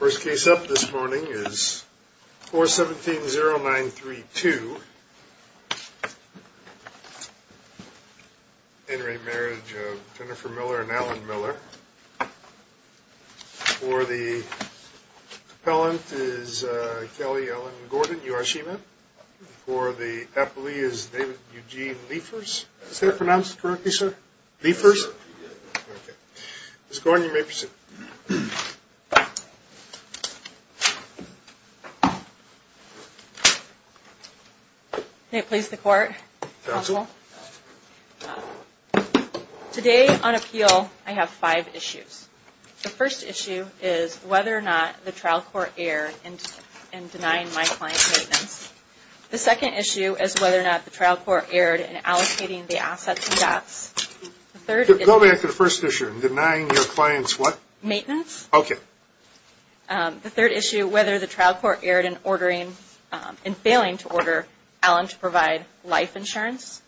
First case up this morning is 4170932. Entering Marriage of Jennifer Miller and Alan Miller. For the Appellant is Kelly Ellen Gordon-Yoshima. For the Appellee is David Eugene Liefers. Is that pronounced correctly, sir? Liefers? Okay. Miss Gordon, you may proceed. Okay. May it please the Court. Counsel. Today on appeal, I have five issues. The first issue is whether or not the trial court erred in denying my client maintenance. The second issue is whether or not the trial court erred in allocating the assets and debts. Go back to the first issue, denying your client's what? Maintenance. Maintenance. Okay. The third issue, whether the trial court erred in failing to order Alan to provide life insurance.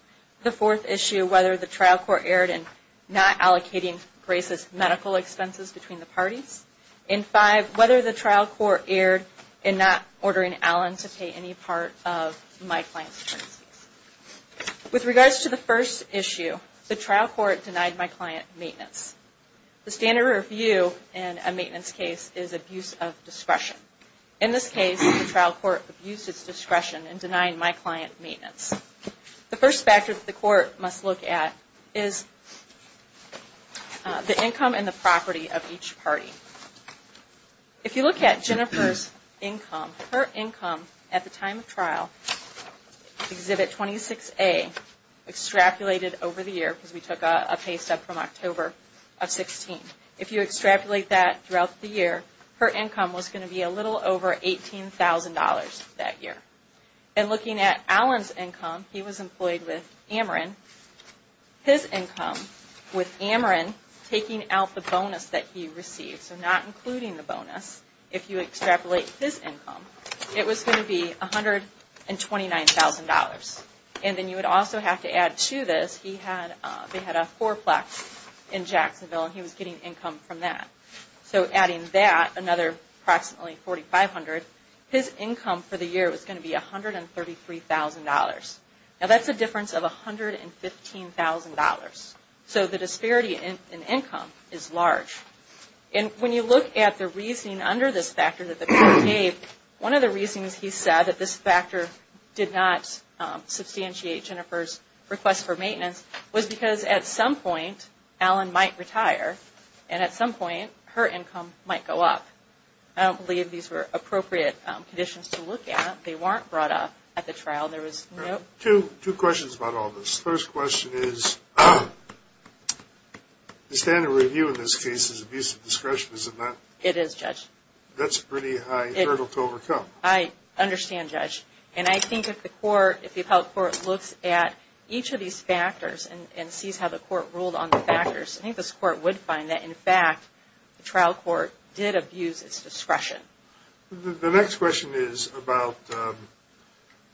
The fourth issue, whether the trial court erred in not allocating racist medical expenses between the parties. And five, whether the trial court erred in not ordering Alan to pay any part of my client's expenses. With regards to the first issue, the trial court denied my client maintenance. The standard review in a maintenance case is abuse of discretion. In this case, the trial court abused its discretion in denying my client maintenance. The first factor that the court must look at is the income and the property of each party. If you look at Jennifer's income, her income at the time of trial, Exhibit 26A, extrapolated over the year because we took a pay step from October of 2016. If you extrapolate that throughout the year, her income was going to be a little over $18,000 that year. And looking at Alan's income, he was employed with Ameren. His income with Ameren taking out the bonus that he received, so not including the bonus, if you extrapolate his income, it was going to be $129,000. And then you would also have to add to this, they had a fourplex in Jacksonville and he was getting income from that. So adding that, another approximately $4,500, his income for the year was going to be $133,000. Now that's a difference of $115,000. So the disparity in income is large. And when you look at the reasoning under this factor that the court gave, one of the reasons he said that this factor did not substantiate Jennifer's request for maintenance was because at some point Alan might retire and at some point her income might go up. I don't believe these were appropriate conditions to look at. They weren't brought up at the trial. Two questions about all this. The first question is, the standard review in this case is abuse of discretion, is it not? It is, Judge. That's a pretty high hurdle to overcome. I understand, Judge. And I think if the court, if the appellate court looks at each of these factors and sees how the court ruled on the factors, I think this court would find that, in fact, the trial court did abuse its discretion. The next question is about the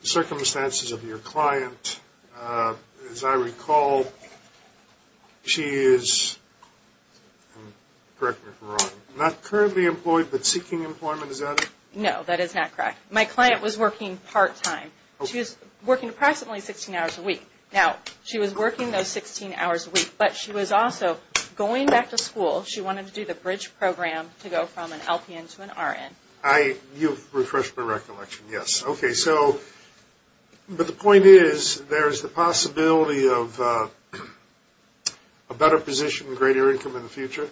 circumstances of your client. As I recall, she is, correct me if I'm wrong, not currently employed but seeking employment, is that it? No, that is not correct. My client was working part-time. She was working approximately 16 hours a week. Now, she was working those 16 hours a week, but she was also going back to school. She wanted to do the bridge program to go from an LPN to an RN. You've refreshed my recollection, yes. Okay, so, but the point is, there's the possibility of a better position, greater income in the future?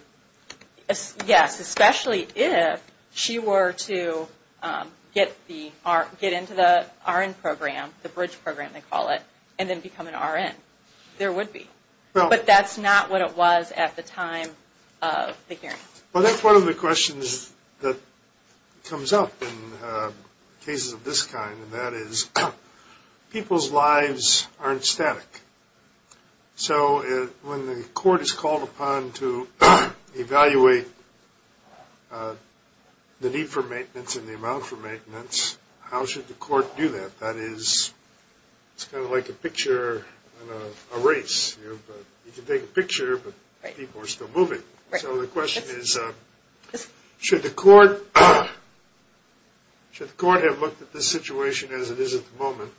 Yes, especially if she were to get into the RN program, the bridge program they call it, and then become an RN. There would be. But that's not what it was at the time of the hearing. Well, that's one of the questions that comes up in cases of this kind, and that is, people's lives aren't static. So when the court is called upon to evaluate the need for maintenance and the amount for maintenance, how should the court do that? That is, it's kind of like a picture in a race. You can take a picture, but people are still moving. So the question is, should the court have looked at this situation as it is at the moment,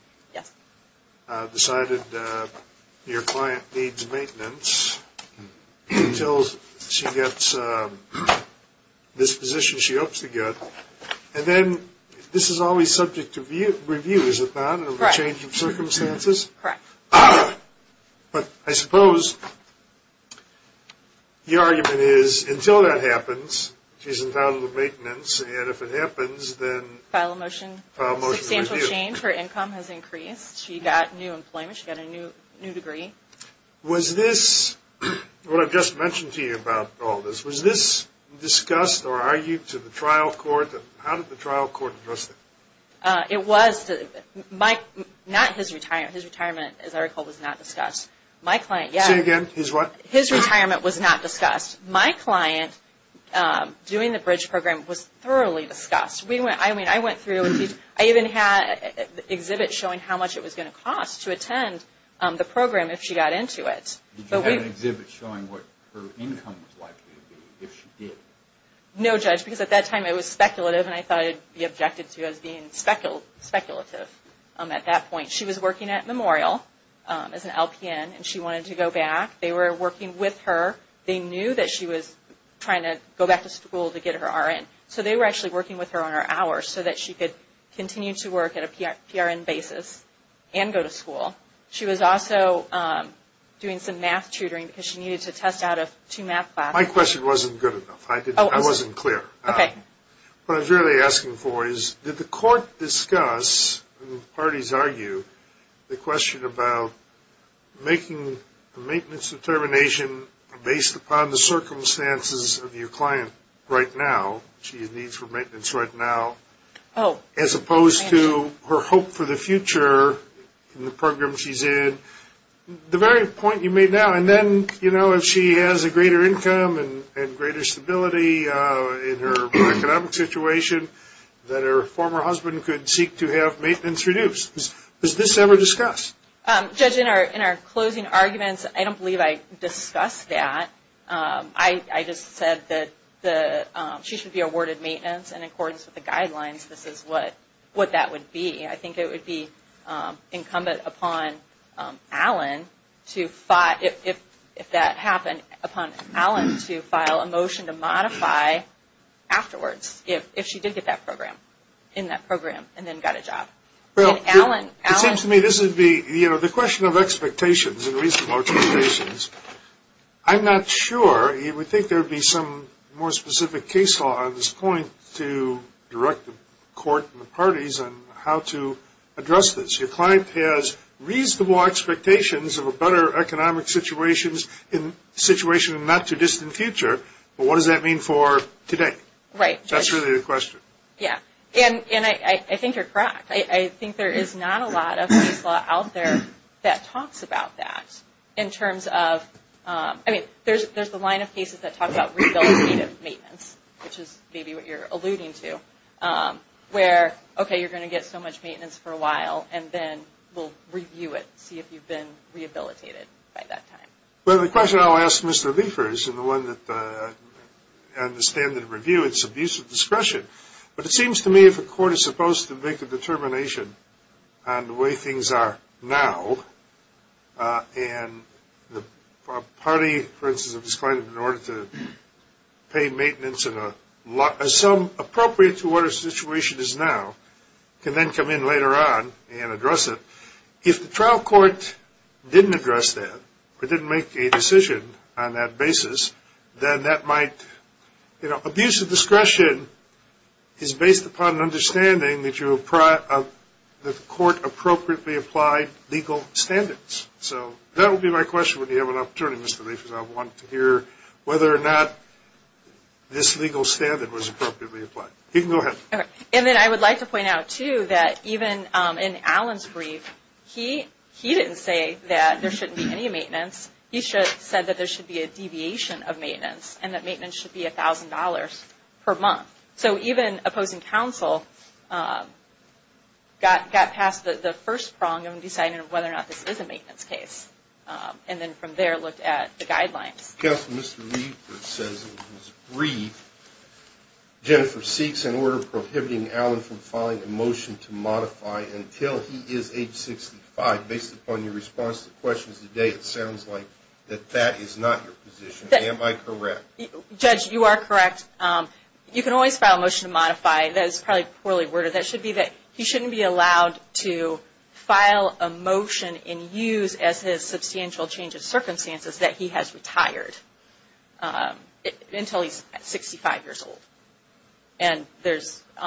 decided your client needs maintenance until she gets this position she hopes to get, and then this is always subject to review, is it not, of a change of circumstances? Correct. But I suppose the argument is, until that happens, she's entitled to maintenance, and if it happens, then? File a motion. File a motion to review. Substantial change. Her income has increased. She got new employment. She got a new degree. Was this, what I've just mentioned to you about all this, was this discussed or argued to the trial court? How did the trial court address it? It was. Not his retirement. His retirement, as I recall, was not discussed. My client, yes. Say it again. His what? His retirement was not discussed. My client, doing the bridge program, was thoroughly discussed. I mean, I went through. I even had an exhibit showing how much it was going to cost to attend the program if she got into it. Did you have an exhibit showing what her income was likely to be if she did? No, Judge, because at that time it was speculative, and I thought it would be objected to as being speculative at that point. She was working at Memorial as an LPN, and she wanted to go back. They were working with her. They knew that she was trying to go back to school to get her RN, so they were actually working with her on her hours so that she could continue to work at a PRN basis and go to school. She was also doing some math tutoring because she needed to test out of two math classes. My question wasn't good enough. I wasn't clear. Okay. What I was really asking for is did the court discuss, and parties argue, the question about making a maintenance determination based upon the circumstances of your client right now, she needs her maintenance right now, as opposed to her hope for the future in the program she's in? The very point you made now, and then, you know, if she has a greater income and greater stability in her economic situation, that her former husband could seek to have maintenance reduced. Does this ever discuss? Judge, in our closing arguments, I don't believe I discussed that. I just said that she should be awarded maintenance in accordance with the guidelines. This is what that would be. I think it would be incumbent upon Alan to, if that happened, upon Alan to file a motion to modify afterwards, if she did get that program, in that program, and then got a job. Well, it seems to me this would be, you know, the question of expectations and reasonable expectations. I'm not sure. We think there would be some more specific case law on this point to direct the court and the parties on how to address this. Your client has reasonable expectations of a better economic situation in the not-too-distant future, but what does that mean for today? Right. That's really the question. Yeah, and I think you're correct. I think there is not a lot of case law out there that talks about that in terms of, I mean, there's the line of cases that talks about rehabilitative maintenance, which is maybe what you're alluding to, where, okay, you're going to get so much maintenance for a while, and then we'll review it, see if you've been rehabilitated by that time. Well, the question I'll ask Mr. Liefers, and the one that I understand in the review, it's abuse of discretion, but it seems to me if a court is supposed to make a determination on the way things are now, and the party, for instance, if it's going in order to pay maintenance in a sum appropriate to what our situation is now, can then come in later on and address it. If the trial court didn't address that or didn't make a decision on that basis, then that might, you know, the abuse of discretion is based upon an understanding that the court appropriately applied legal standards. So that will be my question when you have an opportunity, Mr. Liefers. I want to hear whether or not this legal standard was appropriately applied. You can go ahead. And then I would like to point out, too, that even in Alan's brief, he didn't say that there shouldn't be any maintenance. He said that there should be a deviation of maintenance, and that maintenance should be $1,000 per month. So even opposing counsel got past the first prong of deciding whether or not this is a maintenance case, and then from there looked at the guidelines. Counsel, Mr. Liefers says in his brief, Jennifer seeks an order prohibiting Alan from filing a motion to modify until he is age 65. Based upon your response to questions today, it sounds like that that is not your position. Am I correct? Judge, you are correct. You can always file a motion to modify. That is probably poorly worded. That should be that he shouldn't be allowed to file a motion and use as his substantial change of circumstances that he has retired until he's 65 years old. And there's –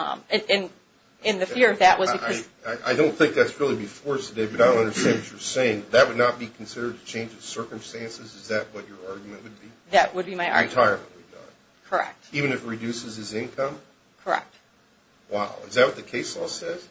and the fear of that was because – I don't think that's really before us today, but I don't understand what you're saying. That would not be considered a change of circumstances? Is that what your argument would be? That would be my argument. Retirement. Correct. Even if it reduces his income? Correct. Wow. Is that what the case law says?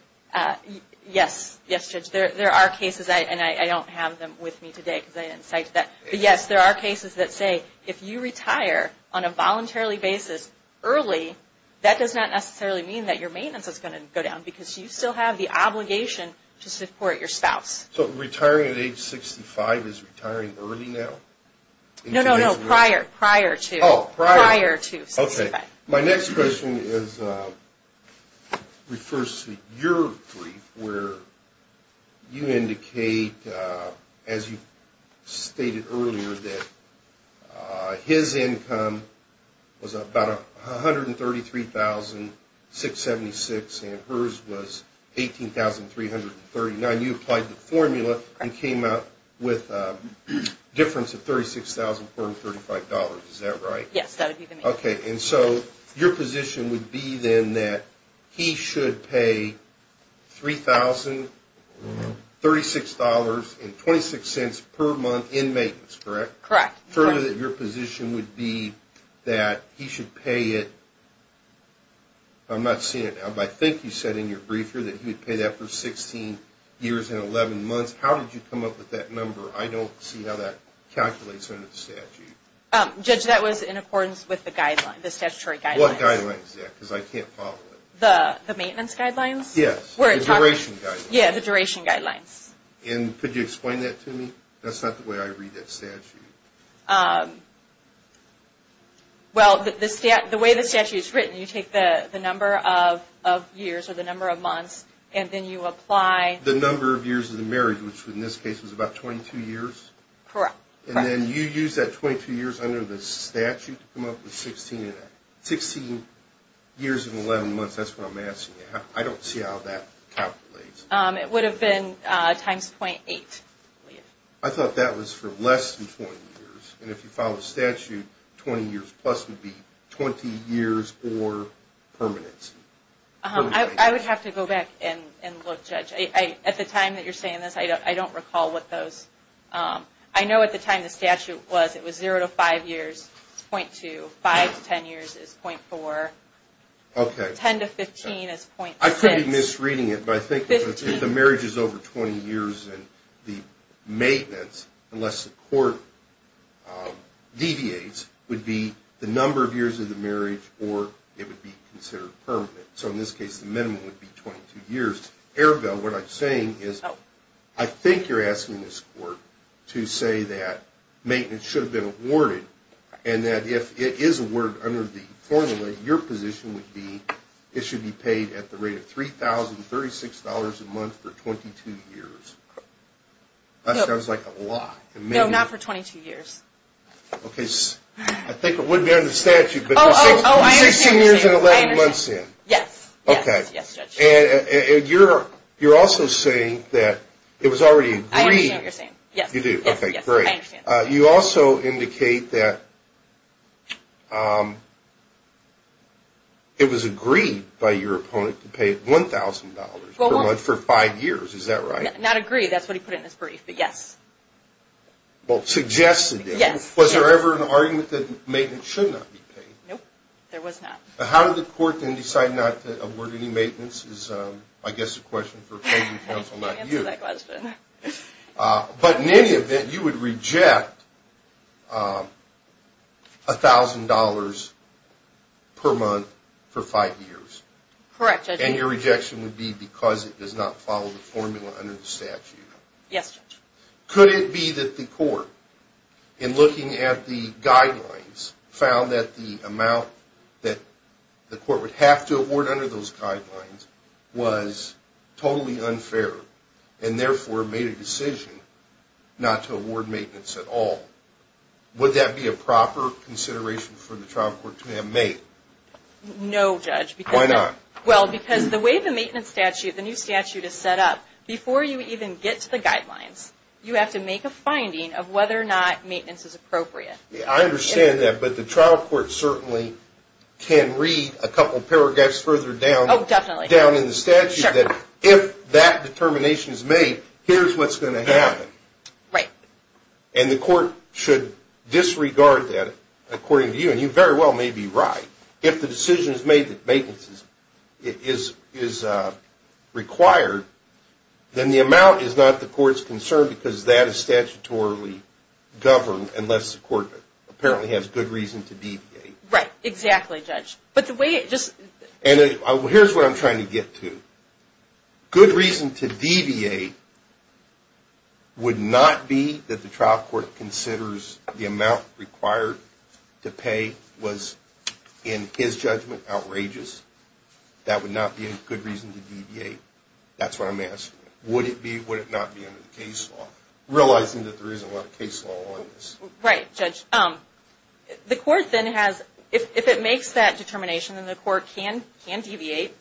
Yes. Yes, Judge. There are cases, and I don't have them with me today because I didn't cite that. But yes, there are cases that say if you retire on a voluntarily basis early, that does not necessarily mean that your maintenance is going to go down because you still have the obligation to support your spouse. So retiring at age 65 is retiring early now? No, no, no. Prior. Prior to. Oh, prior. Prior to 65. Okay. My next question is – refers to your brief where you indicate, as you stated earlier, that his income was about $133,676 and hers was $18,339. You applied the formula and came up with a difference of $36,435. Is that right? Yes, that would be the mean. Okay. And so your position would be then that he should pay $3,036.26 per month in maintenance, correct? Correct. Further, your position would be that he should pay it – I'm not seeing it now, but I think you said in your briefer that he would pay that for 16 years and 11 months. How did you come up with that number? I don't see how that calculates under the statute. Judge, that was in accordance with the guidelines, the statutory guidelines. What guidelines is that? Because I can't follow it. The maintenance guidelines? Yes. The duration guidelines. Yes, the duration guidelines. And could you explain that to me? That's not the way I read that statute. Well, the way the statute is written, you take the number of years or the number of months, and then you apply – The number of years of the marriage, which in this case was about 22 years. Correct. And then you use that 22 years under the statute to come up with 16 years and 11 months. That's what I'm asking you. I don't see how that calculates. It would have been times 0.8. I thought that was for less than 20 years. And if you follow the statute, 20 years plus would be 20 years or permanency. I would have to go back and look, Judge. At the time that you're saying this, I don't recall what those – I know at the time the statute was, it was 0 to 5 years is 0.2. 5 to 10 years is 0.4. Okay. 10 to 15 is 0.6. I could be misreading it, but I think if the marriage is over 20 years, then the maintenance, unless the court deviates, would be the number of years of the marriage or it would be considered permanent. So in this case, the minimum would be 22 years. Arabelle, what I'm saying is I think you're asking this court to say that maintenance should have been awarded and that if it is awarded under the formula, your position would be it should be paid at the rate of $3,036 a month for 22 years. That sounds like a lot. No, not for 22 years. Okay. I think it would be under the statute, but 16 years and 11 months in. Yes. Okay. Yes, Judge. And you're also saying that it was already agreed. I understand what you're saying. You do? Yes, I understand. Okay, great. You also indicate that it was agreed by your opponent to pay $1,000 for five years. Is that right? Not agreed. That's what he put in his brief. But yes. Well, suggested it. Yes. Was there ever an argument that maintenance should not be paid? No, there was not. How did the court then decide not to award any maintenance is, I guess, a question for a payment counsel, not you. I can't answer that question. But in any event, you would reject $1,000 per month for five years. Correct, Judge. And your rejection would be because it does not follow the formula under the statute. Yes, Judge. Could it be that the court, in looking at the guidelines, found that the amount that the court would have to award under those guidelines was totally unfair and, therefore, made a decision not to award maintenance at all? Would that be a proper consideration for the trial court to have made? No, Judge. Why not? Well, because the way the maintenance statute, the new statute is set up, before you even get to the guidelines, you have to make a finding of whether or not maintenance is appropriate. I understand that. But the trial court certainly can read a couple paragraphs further down. Oh, definitely. Down in the statute that if that determination is made, here's what's going to happen. Right. And the court should disregard that, according to you. And you very well may be right. If the decision is made that maintenance is required, then the amount is not the court's concern because that is statutorily governed, Right. Exactly, Judge. And here's what I'm trying to get to. Good reason to deviate would not be that the trial court considers the amount required to pay was, in his judgment, outrageous. That would not be a good reason to deviate. That's what I'm asking. Would it be? Would it not be under the case law? Realizing that there isn't a lot of case law on this. Right, Judge. The court then has, if it makes that determination, then the court can deviate.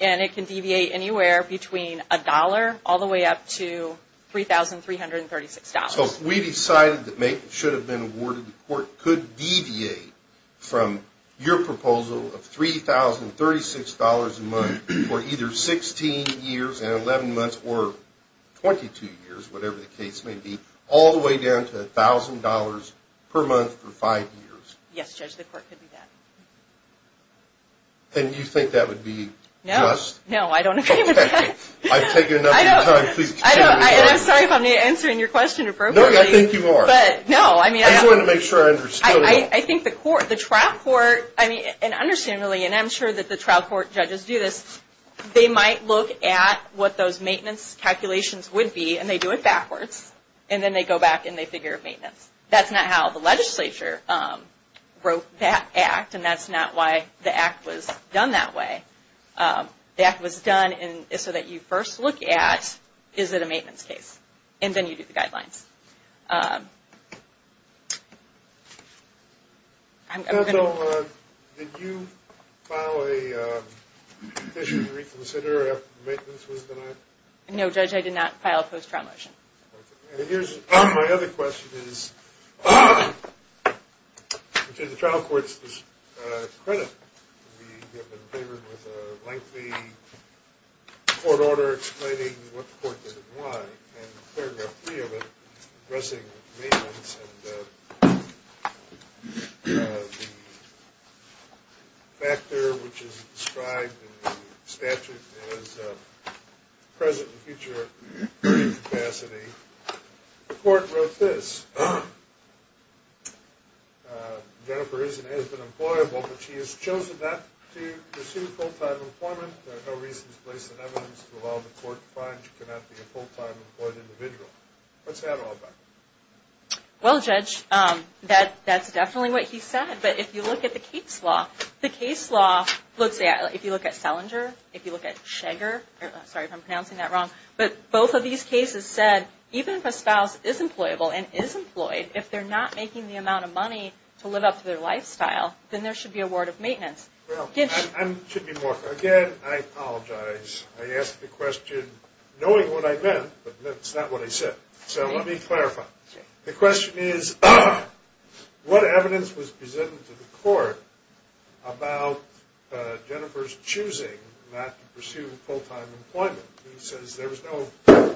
And it can deviate anywhere between a dollar all the way up to $3,336. So if we decided that maintenance should have been awarded, the court could deviate from your proposal of $3,036 a month for either 16 years and 11 months or 22 years, whatever the case may be, all the way down to $1,000 per month for five years. Yes, Judge, the court could do that. And you think that would be just? No. No, I don't agree with that. I've taken enough of your time. Please continue. And I'm sorry if I'm not answering your question appropriately. No, I think you are. But, no, I mean. I just wanted to make sure I understood. I think the trial court, and understandably, and I'm sure that the trial court judges do this, they might look at what those maintenance calculations would be, and they do it backwards, and then they go back and they figure out maintenance. That's not how the legislature wrote that act, and that's not why the act was done that way. The act was done so that you first look at, is it a maintenance case? And then you do the guidelines. Judge, did you file a petition to reconsider after the maintenance was denied? No, Judge, I did not file a post-trial motion. Okay. And here's my other question is, to the trial court's credit, we have been favored with a lengthy court order explaining what the court did and why. And paragraph three of it addressing maintenance and the factor, which is described in the statute as present and future capacity. The court wrote this. Jennifer is and has been employable, but she has chosen not to pursue full-time employment. There are no reasons placed in evidence to allow the court to find she cannot be a full-time employed individual. What's that all about? Well, Judge, that's definitely what he said. But if you look at the case law, the case law looks at, if you look at Selinger, if you look at Shager, sorry if I'm pronouncing that wrong, but both of these cases said even if a spouse is employable and is employed, if they're not making the amount of money to live up to their lifestyle, then there should be a ward of maintenance. Again, I apologize. I asked the question knowing what I meant, but it's not what I said. So let me clarify. The question is, what evidence was presented to the court about Jennifer's choosing not to pursue full-time employment? He says there was no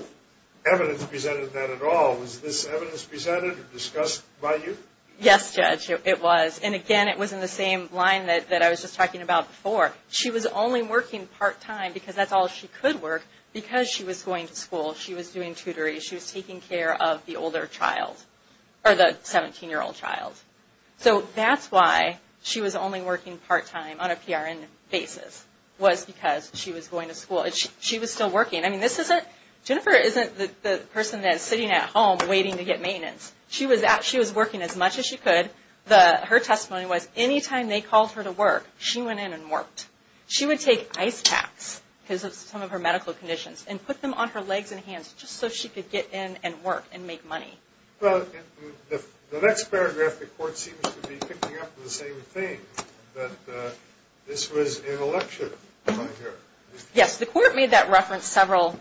evidence presented to that at all. Was this evidence presented or discussed by you? Yes, Judge, it was. And again, it was in the same line that I was just talking about before. She was only working part-time because that's all she could work because she was going to school. She was doing tutoring. She was taking care of the older child or the 17-year-old child. So that's why she was only working part-time on a PRN basis was because she was going to school. She was still working. I mean, this isn't, Jennifer isn't the person that's sitting at home waiting to get maintenance. She was working as much as she could. Her testimony was any time they called her to work, she went in and worked. She would take ice packs because of some of her medical conditions and put them on her legs and hands just so she could get in and work and make money. Well, in the next paragraph, the court seems to be picking up on the same thing, that this was an election by her. Yes, the court made that reference several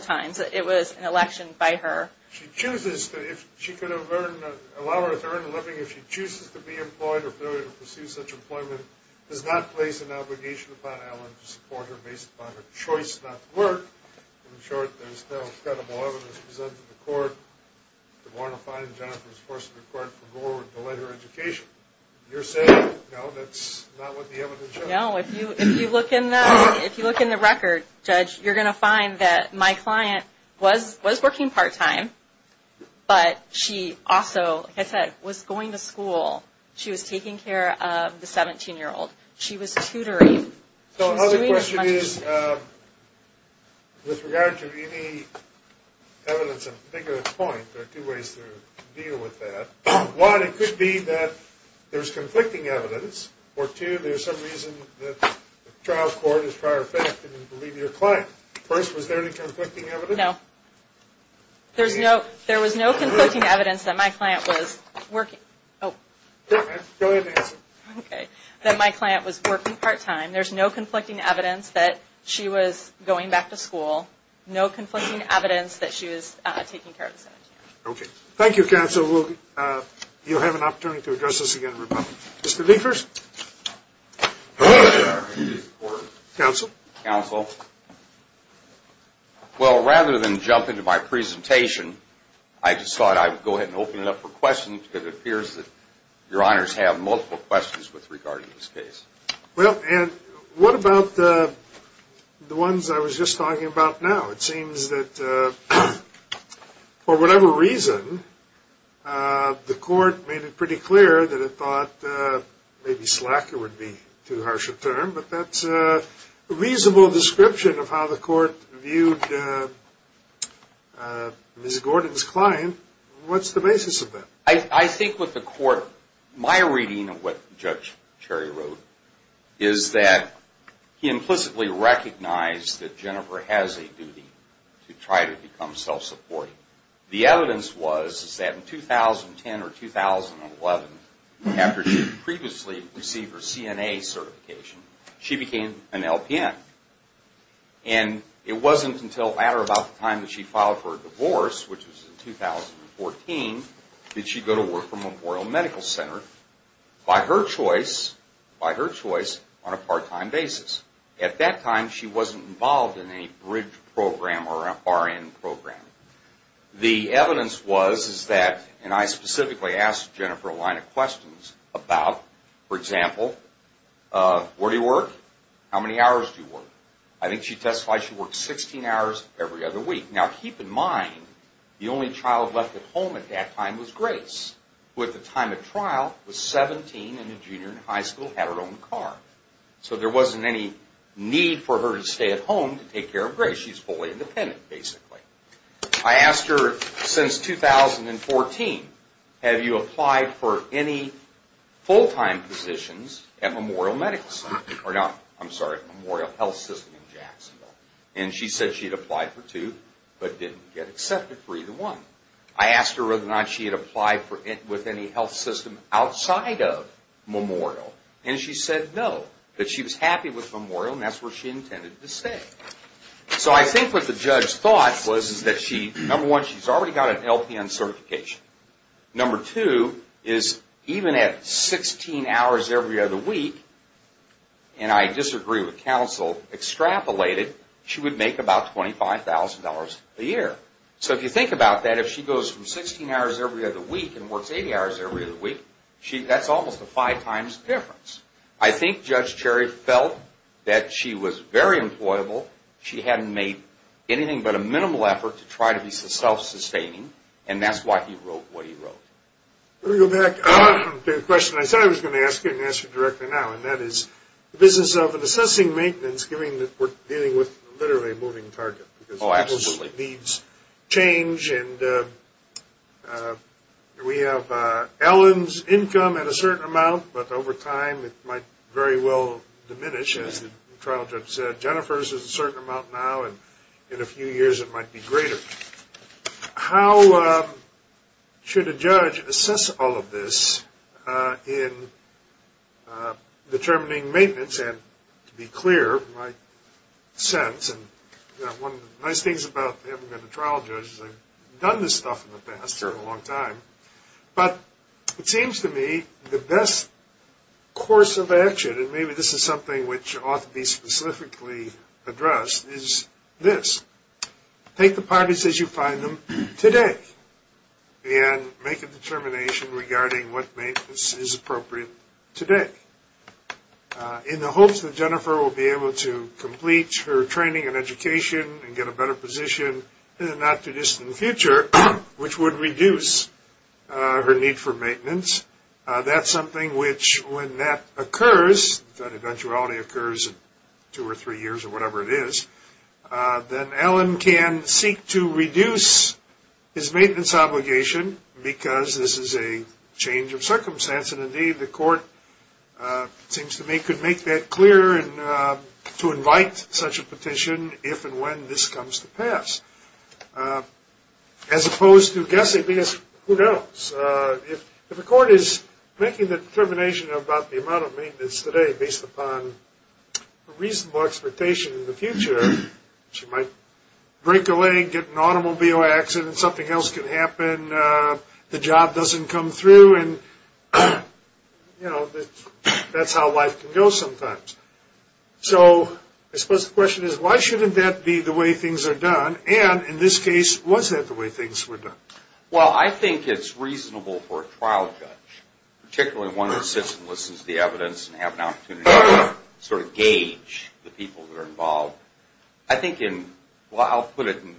times. It was an election by her. She chooses to, if she could have earned, allow her to earn a living, if she chooses to be employed or pursue such employment, does not place an obligation upon Allen to support her based upon her choice not to work. In short, there's no credible evidence presented to the court. The warrant of fine, Jennifer, is forcing the court to go forward and delay her education. You're saying, no, that's not what the evidence shows? No. If you look in the record, Judge, you're going to find that my client was working part-time, but she also, like I said, was going to school. She was taking care of the 17-year-old. She was tutoring. So another question is, with regard to any evidence of a particular point, there are two ways to deal with that. One, it could be that there's conflicting evidence, or two, there's some reason that the trial court is prior fact and didn't believe your client. First, was there any conflicting evidence? No. There was no conflicting evidence that my client was working part-time. There's no conflicting evidence that she was going back to school, no conflicting evidence that she was taking care of the 17-year-old. Okay. Thank you, counsel. You'll have an opportunity to address this again in rebuttal. Mr. Liefers? Counsel? Counsel. Well, rather than jump into my presentation, I just thought I'd go ahead and open it up for questions, because it appears that your honors have multiple questions regarding this case. Well, Ed, what about the ones I was just talking about now? It seems that, for whatever reason, the court made it pretty clear that it thought maybe slacker would be too harsh a term, but that's a reasonable description of how the court viewed Ms. Gordon's client. What's the basis of that? I think with the court, my reading of what Judge Cherry wrote is that he implicitly recognized that Jennifer has a duty to try to become self-supporting. The evidence was that in 2010 or 2011, after she had previously received her CNA certification, she became an LPN. And it wasn't until later about the time that she filed for a divorce, which was in 2014, that she'd go to work for Memorial Medical Center by her choice on a part-time basis. At that time, she wasn't involved in any bridge program or RN program. The evidence was that, and I specifically asked Jennifer a line of questions about, for example, where do you work? How many hours do you work? I think she testified she worked 16 hours every other week. Now, keep in mind, the only child left at home at that time was Grace, who at the time of trial was 17 and a junior in high school, had her own car. So there wasn't any need for her to stay at home to take care of Grace. She's fully independent, basically. I asked her since 2014, have you applied for any full-time positions at Memorial Health System in Jacksonville? And she said she had applied for two, but didn't get accepted for either one. I asked her whether or not she had applied with any health system outside of Memorial. And she said no, that she was happy with Memorial and that's where she intended to stay. So I think what the judge thought was that, number one, she's already got an LPN certification. Number two is even at 16 hours every other week, and I disagree with counsel, extrapolated, she would make about $25,000 a year. So if you think about that, if she goes from 16 hours every other week and works 80 hours every other week, that's almost a five times difference. I think Judge Cherry felt that she was very employable. She hadn't made anything but a minimal effort to try to be self-sustaining, and that's why he wrote what he wrote. Let me go back to the question I said I was going to ask you and ask you directly now, and that is the business of assessing maintenance, dealing with literally a moving target. Oh, absolutely. It needs change, and we have Ellen's income at a certain amount, but over time it might very well diminish, as the trial judge said. Jennifer's is a certain amount now, and in a few years it might be greater. How should a judge assess all of this in determining maintenance? I just had to be clear in my sense, and one of the nice things about having been a trial judge is I've done this stuff in the past for a long time, but it seems to me the best course of action, and maybe this is something which ought to be specifically addressed, is this. Take the parties as you find them today and make a determination regarding what maintenance is appropriate today. In the hopes that Jennifer will be able to complete her training and education and get a better position in the not-too-distant future, which would reduce her need for maintenance, that's something which when that occurs, that eventuality occurs in two or three years or whatever it is, then Ellen can seek to reduce his maintenance obligation because this is a change of circumstance, and indeed the court seems to me could make that clear and to invite such a petition if and when this comes to pass. As opposed to guessing, because who knows? If the court is making the determination about the amount of maintenance today based upon a reasonable expectation in the future, she might break a leg, get in an automobile accident, something else could happen, the job doesn't come through, and that's how life can go sometimes. So I suppose the question is why shouldn't that be the way things are done? And in this case, was that the way things were done? Well, I think it's reasonable for a trial judge, particularly one that sits and listens to the evidence and have an opportunity to sort of gauge the people that are involved. I think in, well I'll put it in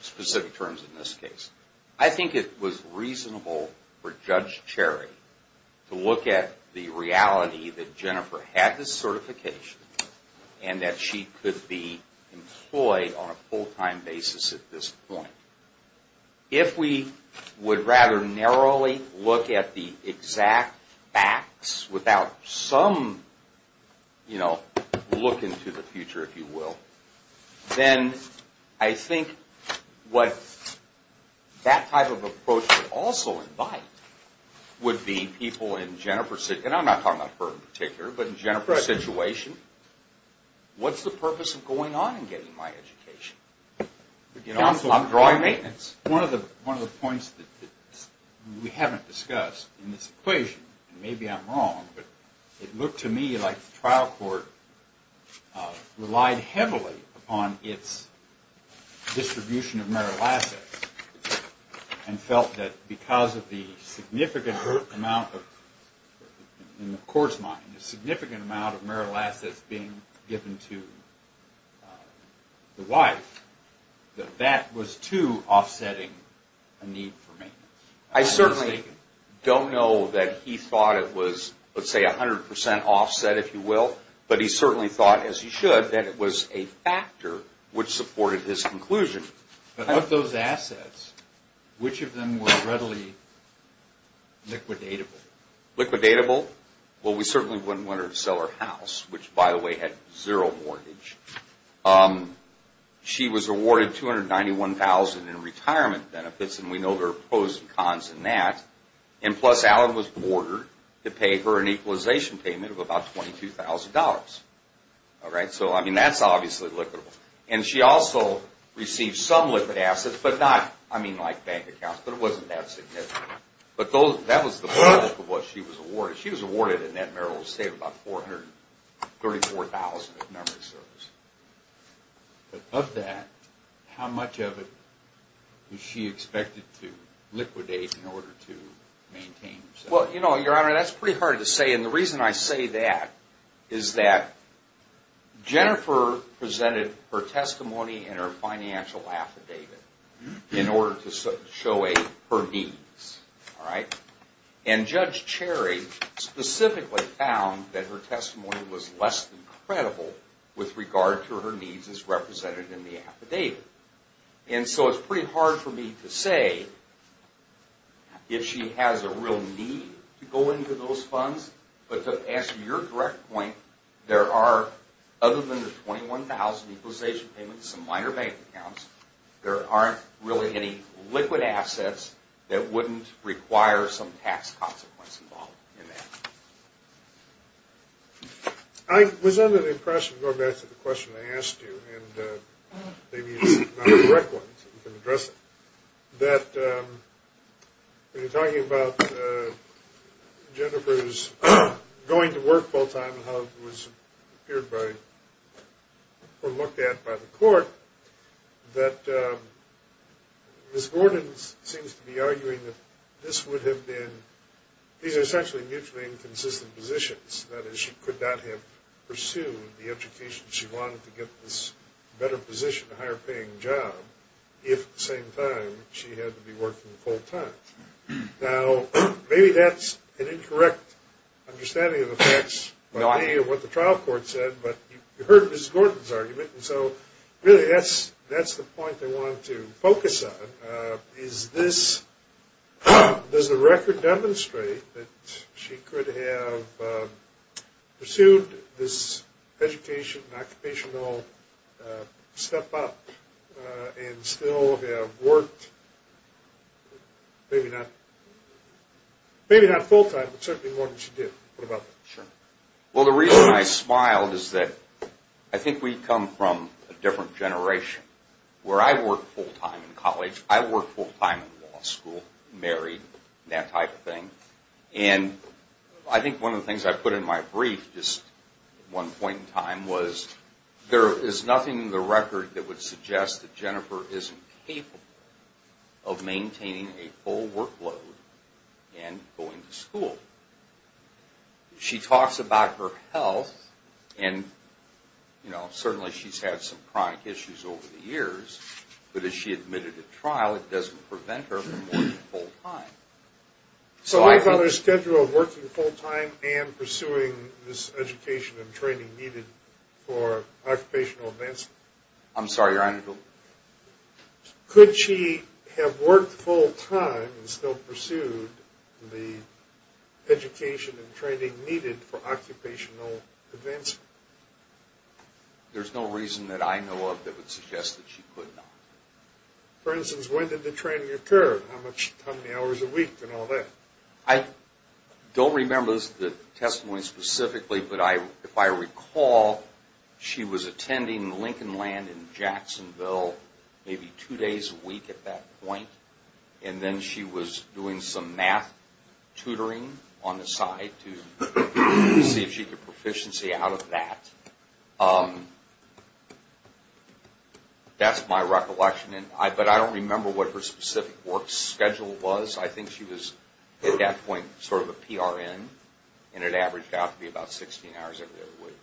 specific terms in this case, I think it was reasonable for Judge Cherry to look at the reality that Jennifer had this certification and that she could be employed on a full-time basis at this point. If we would rather narrowly look at the exact facts without some look into the future, if you will, then I think what that type of approach would also invite would be people in Jennifer's, and I'm not talking about her in particular, but in Jennifer's situation, what's the purpose of going on and getting my education? Counsel, I'm drawing maintenance. One of the points that we haven't discussed in this equation, and maybe I'm wrong, but it looked to me like the trial court relied heavily upon its distribution of marital assets and felt that because of the significant amount of, in the court's mind, the significant amount of marital assets being given to the wife, that that was too offsetting a need for maintenance. I certainly don't know that he thought it was, let's say, 100% offset, if you will, but he certainly thought, as he should, that it was a factor which supported his conclusion. But of those assets, which of them were readily liquidatable? Liquidatable? Well, we certainly wouldn't want her to sell her house, which, by the way, had zero mortgage. She was awarded $291,000 in retirement benefits, and we know there are pros and cons in that, and plus Alan was ordered to pay her an equalization payment of about $22,000. So, I mean, that's obviously liquidable. And she also received some liquid assets, but not, I mean, like bank accounts, but it wasn't that significant. But that was the bulk of what she was awarded. She was awarded in that marital estate about $434,000 of memory service. But of that, how much of it was she expected to liquidate in order to maintain herself? Well, you know, Your Honor, that's pretty hard to say, and the reason I say that is that Jennifer presented her testimony and her financial affidavit in order to show her needs, all right? And Judge Cherry specifically found that her testimony was less than credible with regard to her needs as represented in the affidavit. And so it's pretty hard for me to say if she has a real need to go into those funds, but to answer your direct point, there are, other than the $21,000 equalization payment and some minor bank accounts, there aren't really any liquid assets that wouldn't require some tax consequence involved in that. I was under the impression, going back to the question I asked you, and maybe it's not a direct one, so you can address it, that when you're talking about Jennifer's going to work full-time and how it was appeared by, or looked at by the court, that Ms. Gordon seems to be arguing that this would have been, these are essentially mutually inconsistent positions. That is, she could not have pursued the education she wanted to get this better position, a higher-paying job, if at the same time she had to be working full-time. Now, maybe that's an incorrect understanding of the facts of what the trial court said, but you heard Ms. Gordon's argument, and so really that's the point I want to focus on. Is this, does the record demonstrate that she could have pursued this education, occupational step up, and still have worked, maybe not full-time, but certainly more than she did? What about that? Well, the reason I smiled is that I think we come from a different generation. Where I worked full-time in college, I worked full-time in law school, married, that type of thing, and I think one of the things I put in my brief just at one point in time was, there is nothing in the record that would suggest that Jennifer isn't capable of maintaining a full workload and going to school. She talks about her health, and you know, certainly she's had some chronic issues over the years, but as she admitted to trial, it doesn't prevent her from working full-time. So on her schedule of working full-time and pursuing this education and training needed for occupational advancement, I'm sorry, Your Honor? Could she have worked full-time and still pursued the education and training needed for occupational advancement? There's no reason that I know of that would suggest that she could not. For instance, when did the training occur? How many hours a week and all that? I don't remember the testimony specifically, but if I recall, she was attending Lincoln Land in Jacksonville maybe two days a week at that point, and then she was doing some math tutoring on the side to see if she could get proficiency out of that. That's my recollection, but I don't remember what her specific work schedule was. I think she was at that point sort of a PRN, and it averaged out to be about 16 hours every other week.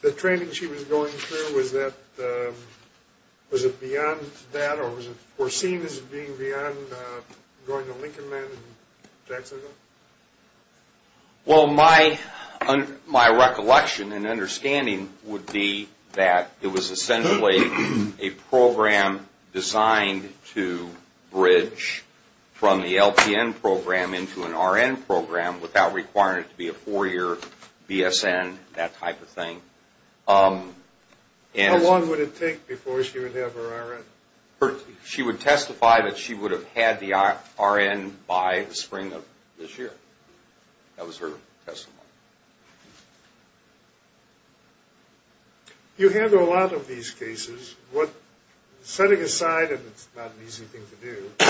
The training she was going through, was it beyond that, or was it foreseen as being beyond going to Lincoln Land in Jacksonville? Well, my recollection and understanding would be that it was essentially a program designed to bridge from the LPN program into an RN program without requiring it to be a four-year BSN, that type of thing. How long would it take before she would have her RN? She would testify that she would have had the RN by the spring of this year. That was her testimony. You handle a lot of these cases. Setting aside, and it's not an easy thing to do,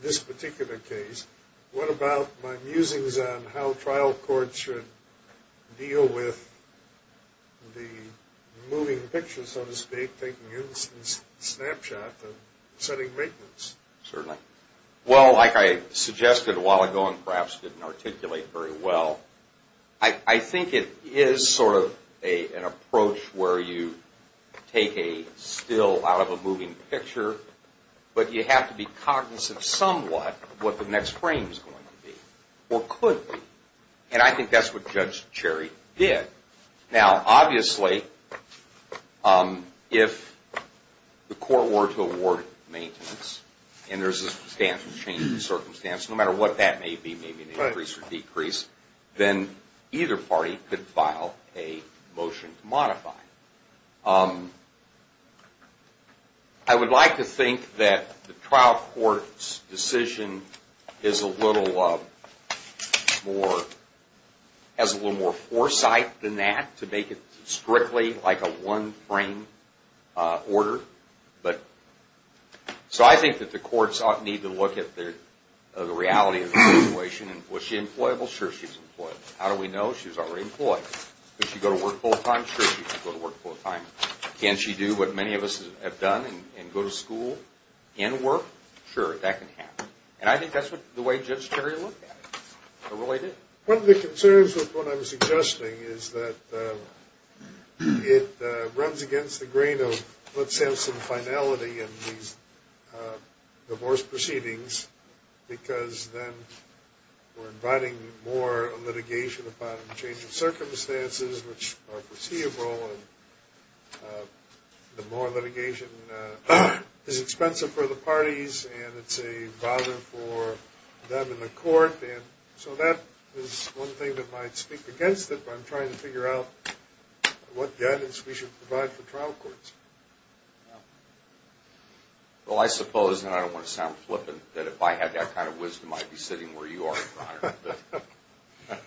this particular case, what about my musings on how trial courts should deal with the moving pictures, so to speak, taking Ulysses' snapshot and setting maintenance? Certainly. Well, like I suggested a while ago, and perhaps didn't articulate very well, I think it is sort of an approach where you take a still out of a moving picture, but you have to be cognizant somewhat of what the next frame is going to be, or could be. And I think that's what Judge Cherry did. Now, obviously, if the court were to award maintenance and there's a substantial change in circumstance, no matter what that may be, maybe an increase or decrease, then either party could file a motion to modify it. I would like to think that the trial court's decision has a little more foresight than that to make it strictly like a one-frame order. So I think that the courts need to look at the reality of the situation. Was she employable? Sure, she was employable. How do we know she was already employed? Did she go to work full-time? Sure, she could go to work full-time. Can she do what many of us have done and go to school and work? Sure, that can happen. And I think that's the way Judge Cherry looked at it, or really did. One of the concerns with what I'm suggesting is that it runs against the grain of, let's have some finality in these divorce proceedings, because then we're inviting more litigation upon a change in circumstances, which are foreseeable, and the more litigation is expensive for the parties and it's a bother for them in the court. So that is one thing that might speak against it, but I'm trying to figure out what guidance we should provide for trial courts. Well, I suppose, and I don't want to sound flippant, that if I had that kind of wisdom, I'd be sitting where you are, Your Honor.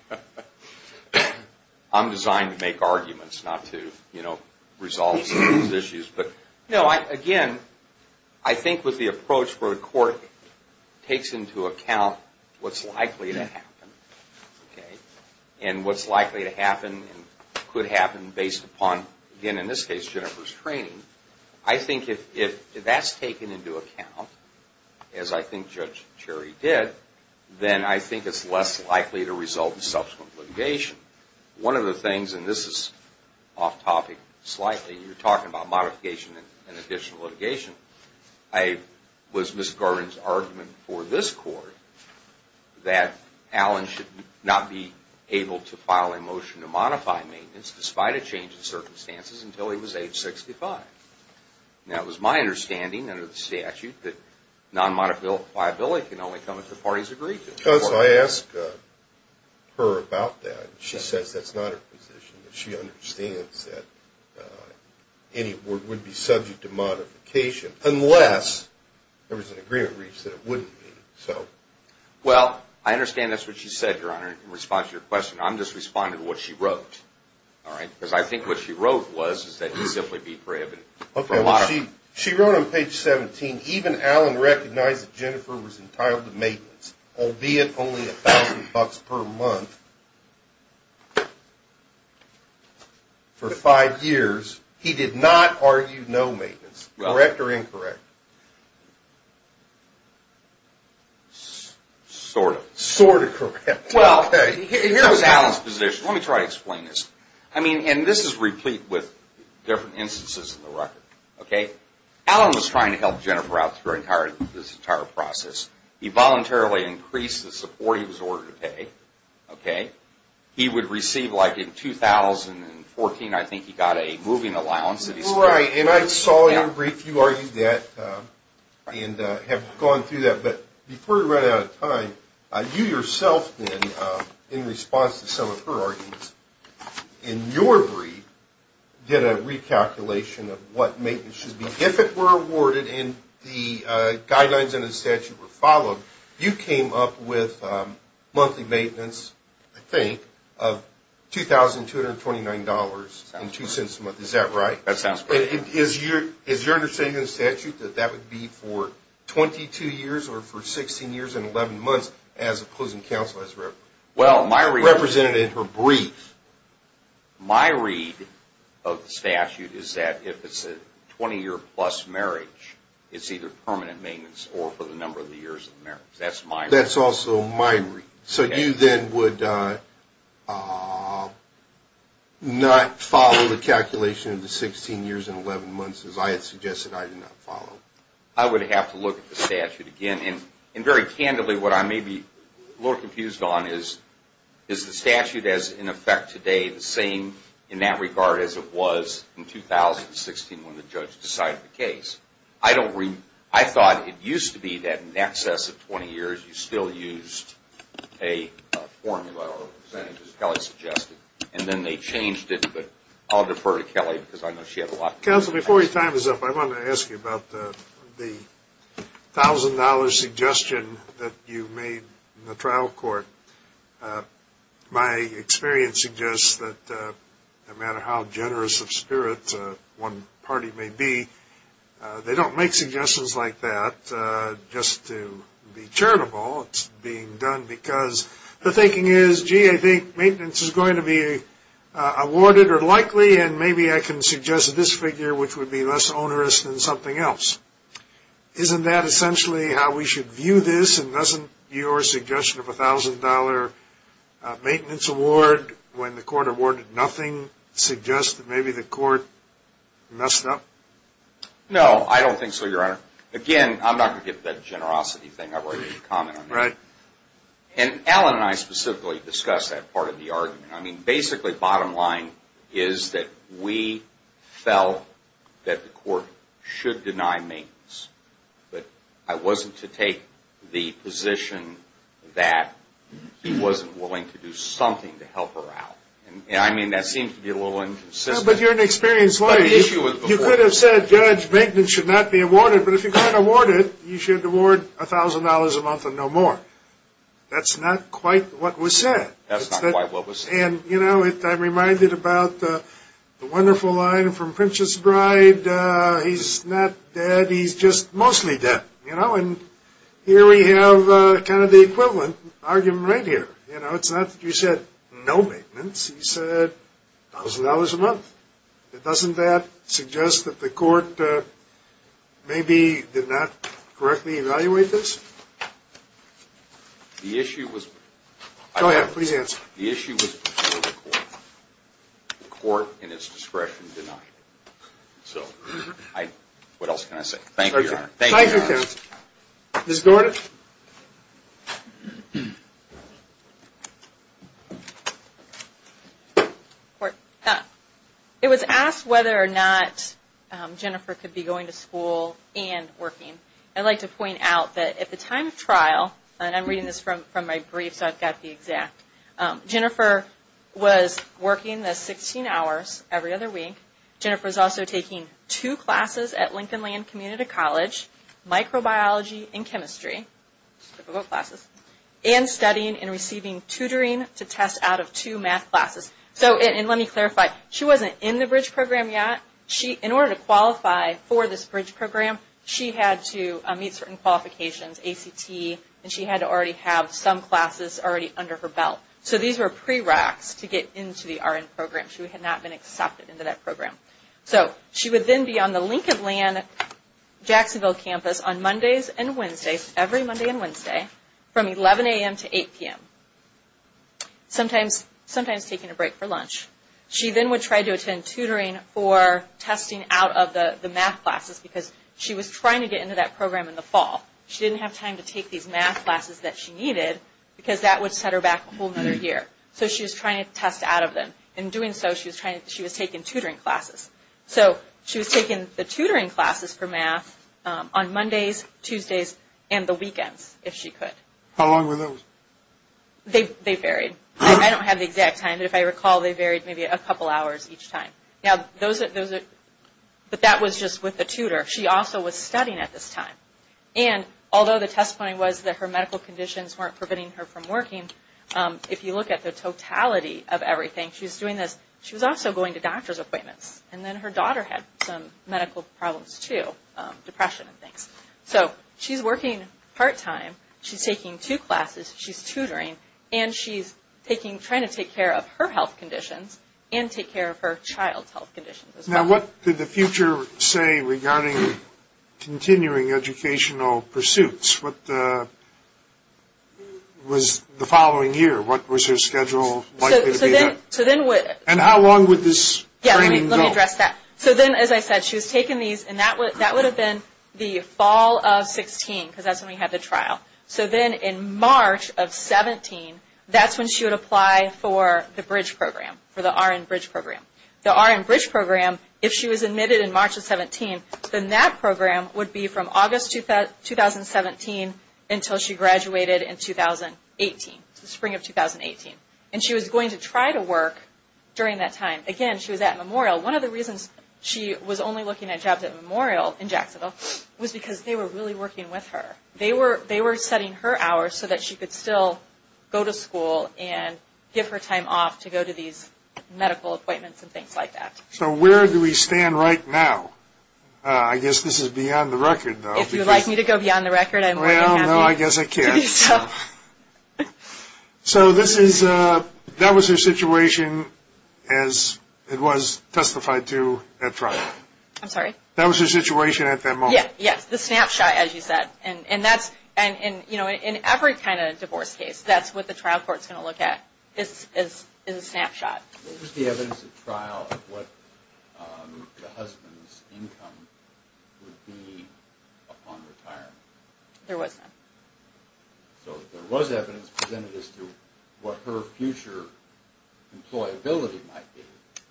I'm designed to make arguments, not to resolve some of these issues. But again, I think with the approach where the court takes into account what's likely to happen, and what's likely to happen and could happen based upon, again in this case, Jennifer's training, I think if that's taken into account, as I think Judge Cherry did, then I think it's less likely to result in subsequent litigation. One of the things, and this is off-topic slightly, you're talking about modification and additional litigation, was Ms. Garvin's argument for this court that Allen should not be able to file a motion to modify maintenance despite a change in circumstances until he was age 65. Now, it was my understanding under the statute that non-modifiability can only come if the parties agree to it. So I asked her about that, and she says that's not her position. She understands that any would be subject to modification unless there was an agreement reached that it wouldn't be. Well, I understand that's what she said, Your Honor, in response to your question. I'm just responding to what she wrote. All right? Because I think what she wrote was that he would simply be prohibited. Okay, well, she wrote on page 17, even Allen recognized that Jennifer was entitled to maintenance, albeit only $1,000 per month for five years. He did not argue no maintenance. Correct or incorrect? Sort of. Sort of correct. Well, here was Allen's position. Let me try to explain this. I mean, and this is replete with different instances in the record. Okay? Allen was trying to help Jennifer out through this entire process. He voluntarily increased the support he was ordered to pay. Okay? He would receive, like in 2014, I think he got a moving allowance. Right, and I saw your brief. You argued that and have gone through that. Okay, but before we run out of time, you yourself then, in response to some of her arguments, in your brief, did a recalculation of what maintenance should be. If it were awarded and the guidelines in the statute were followed, you came up with monthly maintenance, I think, of $2,229.02 a month. Is that right? That sounds correct. Is your understanding in the statute that that would be for 22 years or for 16 years and 11 months as opposing counsel has represented in her brief? My read of the statute is that if it's a 20-year-plus marriage, it's either permanent maintenance or for the number of years of marriage. That's my read. That's also my read. So you then would not follow the calculation of the 16 years and 11 months as I had suggested I did not follow? I would have to look at the statute again. And very candidly, what I may be a little confused on is, is the statute as in effect today the same in that regard as it was in 2016 when the judge decided the case? I thought it used to be that in excess of 20 years, you still used a formula or percentage as Kelly suggested. And then they changed it, but I'll defer to Kelly because I know she had a lot. Counsel, before your time is up, I want to ask you about the $1,000 suggestion that you made in the trial court. My experience suggests that no matter how generous of spirit one party may be, they don't make suggestions like that just to be charitable. It's being done because the thinking is, gee, I think maintenance is going to be awarded or likely, and maybe I can suggest this figure, which would be less onerous than something else. Isn't that essentially how we should view this? And doesn't your suggestion of a $1,000 maintenance award when the court awarded nothing suggest that maybe the court messed up? No, I don't think so, Your Honor. Again, I'm not going to get to that generosity thing. I've already made a comment on that. Right. And Alan and I specifically discussed that part of the argument. I mean, basically bottom line is that we felt that the court should deny maintenance, but I wasn't to take the position that he wasn't willing to do something to help her out. I mean, that seems to be a little inconsistent. But you're an experienced lawyer. You could have said, Judge, maintenance should not be awarded, but if you can't award it, you should award $1,000 a month and no more. That's not quite what was said. That's not quite what was said. And, you know, I'm reminded about the wonderful line from Princess Bride, where he said he's not dead, he's just mostly dead. You know, and here we have kind of the equivalent argument right here. You know, it's not that you said no maintenance. You said $1,000 a month. Doesn't that suggest that the court maybe did not correctly evaluate this? The issue was… Go ahead. Please answer. The issue was before the court. The court, in its discretion, denied it. So what else can I say? Thank you, Your Honor. Thank you, counsel. Ms. Gordon. It was asked whether or not Jennifer could be going to school and working. I'd like to point out that at the time of trial, and I'm reading this from my brief so I've got the exact, Jennifer was working the 16 hours every other week. Jennifer was also taking two classes at Lincoln Land Community College, microbiology and chemistry, typical classes, and studying and receiving tutoring to test out of two math classes. And let me clarify, she wasn't in the BRIDGE program yet. In order to qualify for this BRIDGE program, she had to meet certain qualifications, ACT, and she had to already have some classes already under her belt. So these were pre-reqs to get into the RN program. She had not been accepted into that program. So she would then be on the Lincoln Land Jacksonville campus on Mondays and Wednesdays, every Monday and Wednesday, from 11 a.m. to 8 p.m., sometimes taking a break for lunch. She then would try to attend tutoring for testing out of the math classes because she was trying to get into that program in the fall. She didn't have time to take these math classes that she needed because that would set her back a whole other year. So she was trying to test out of them. In doing so, she was taking tutoring classes. So she was taking the tutoring classes for math on Mondays, Tuesdays, and the weekends, if she could. How long were those? They varied. I don't have the exact time, but if I recall, they varied maybe a couple hours each time. But that was just with the tutor. She also was studying at this time. And although the testimony was that her medical conditions weren't preventing her from working, if you look at the totality of everything, she was doing this. She was also going to doctor's appointments. And then her daughter had some medical problems too, depression and things. So she's working part-time. She's taking two classes. She's tutoring. And she's trying to take care of her health conditions and take care of her child's health conditions as well. Now what did the future say regarding continuing educational pursuits? What was the following year? What was her schedule likely to be? And how long would this training go? Yeah, let me address that. So then, as I said, she was taking these. And that would have been the fall of 16 because that's when we had the trial. So then in March of 17, that's when she would apply for the Bridge Program, for the RN Bridge Program. The RN Bridge Program, if she was admitted in March of 17, then that program would be from August 2017 until she graduated in 2018, spring of 2018. And she was going to try to work during that time. Again, she was at Memorial. One of the reasons she was only looking at jobs at Memorial in Jacksonville was because they were really working with her. They were setting her hours so that she could still go to school and give her time off to go to these medical appointments and things like that. So where do we stand right now? I guess this is beyond the record, though. If you'd like me to go beyond the record, I'm more than happy to do so. Well, no, I guess I can't. So that was her situation as it was testified to at trial. I'm sorry? That was her situation at that moment. Yes, the snapshot, as you said. In every kind of divorce case, that's what the trial court is going to look at is a snapshot. Was there evidence at trial of what the husband's income would be upon retirement? There was none. So there was evidence presented as to what her future employability might be.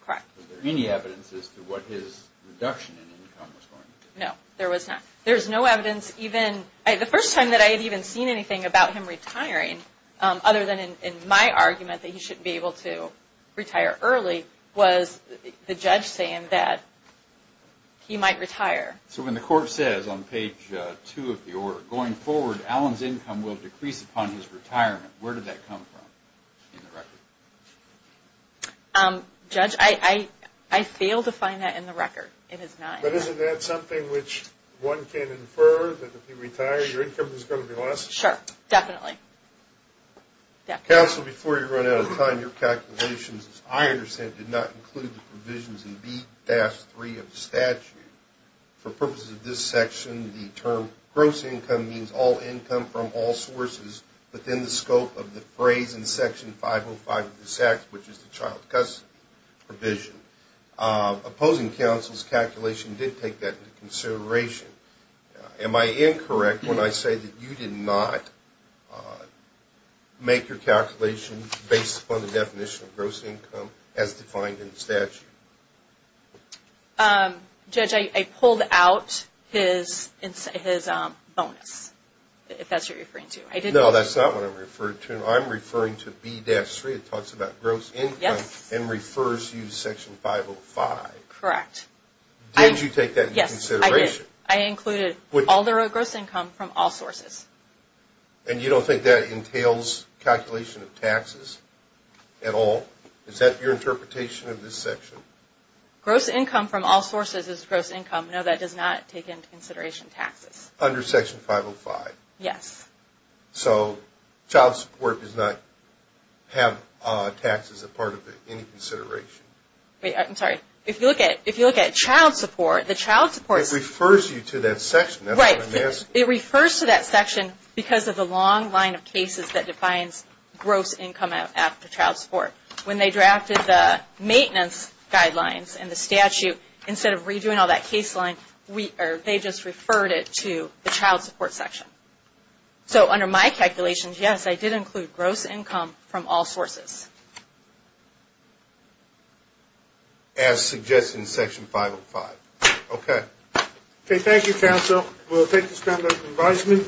Correct. Was there any evidence as to what his reduction in income was going to be? No, there was not. There's no evidence. The first time that I had even seen anything about him retiring, other than in my argument that he shouldn't be able to retire early, was the judge saying that he might retire. So when the court says on page 2 of the order, going forward Allen's income will decrease upon his retirement, where did that come from in the record? It is not in the record. But isn't that something which one can infer that if you retire, your income is going to be less? Sure, definitely. Counsel, before you run out of time, your calculations, as I understand it, did not include the provisions in B-3 of the statute. For purposes of this section, the term gross income means all income from all sources within the scope of the phrase in Section 505 of this Act, which is the child custody provision. Opposing counsel's calculation did take that into consideration. Am I incorrect when I say that you did not make your calculation based upon the definition of gross income as defined in the statute? Judge, I pulled out his bonus, if that's what you're referring to. No, that's not what I'm referring to. I'm referring to B-3. It talks about gross income and refers to Section 505. Correct. Did you take that into consideration? Yes, I did. I included all gross income from all sources. And you don't think that entails calculation of taxes at all? Is that your interpretation of this section? Gross income from all sources is gross income. No, that does not take into consideration taxes. Under Section 505? Yes. So child support does not have taxes as part of any consideration? I'm sorry. If you look at child support, the child support... It refers you to that section. Right. It refers to that section because of the long line of cases that defines gross income after child support. When they drafted the maintenance guidelines in the statute, instead of redoing all that case line, they just referred it to the child support section. So under my calculations, yes, I did include gross income from all sources. As suggested in Section 505. Okay. Okay. Thank you, counsel. We'll take this time for advisement.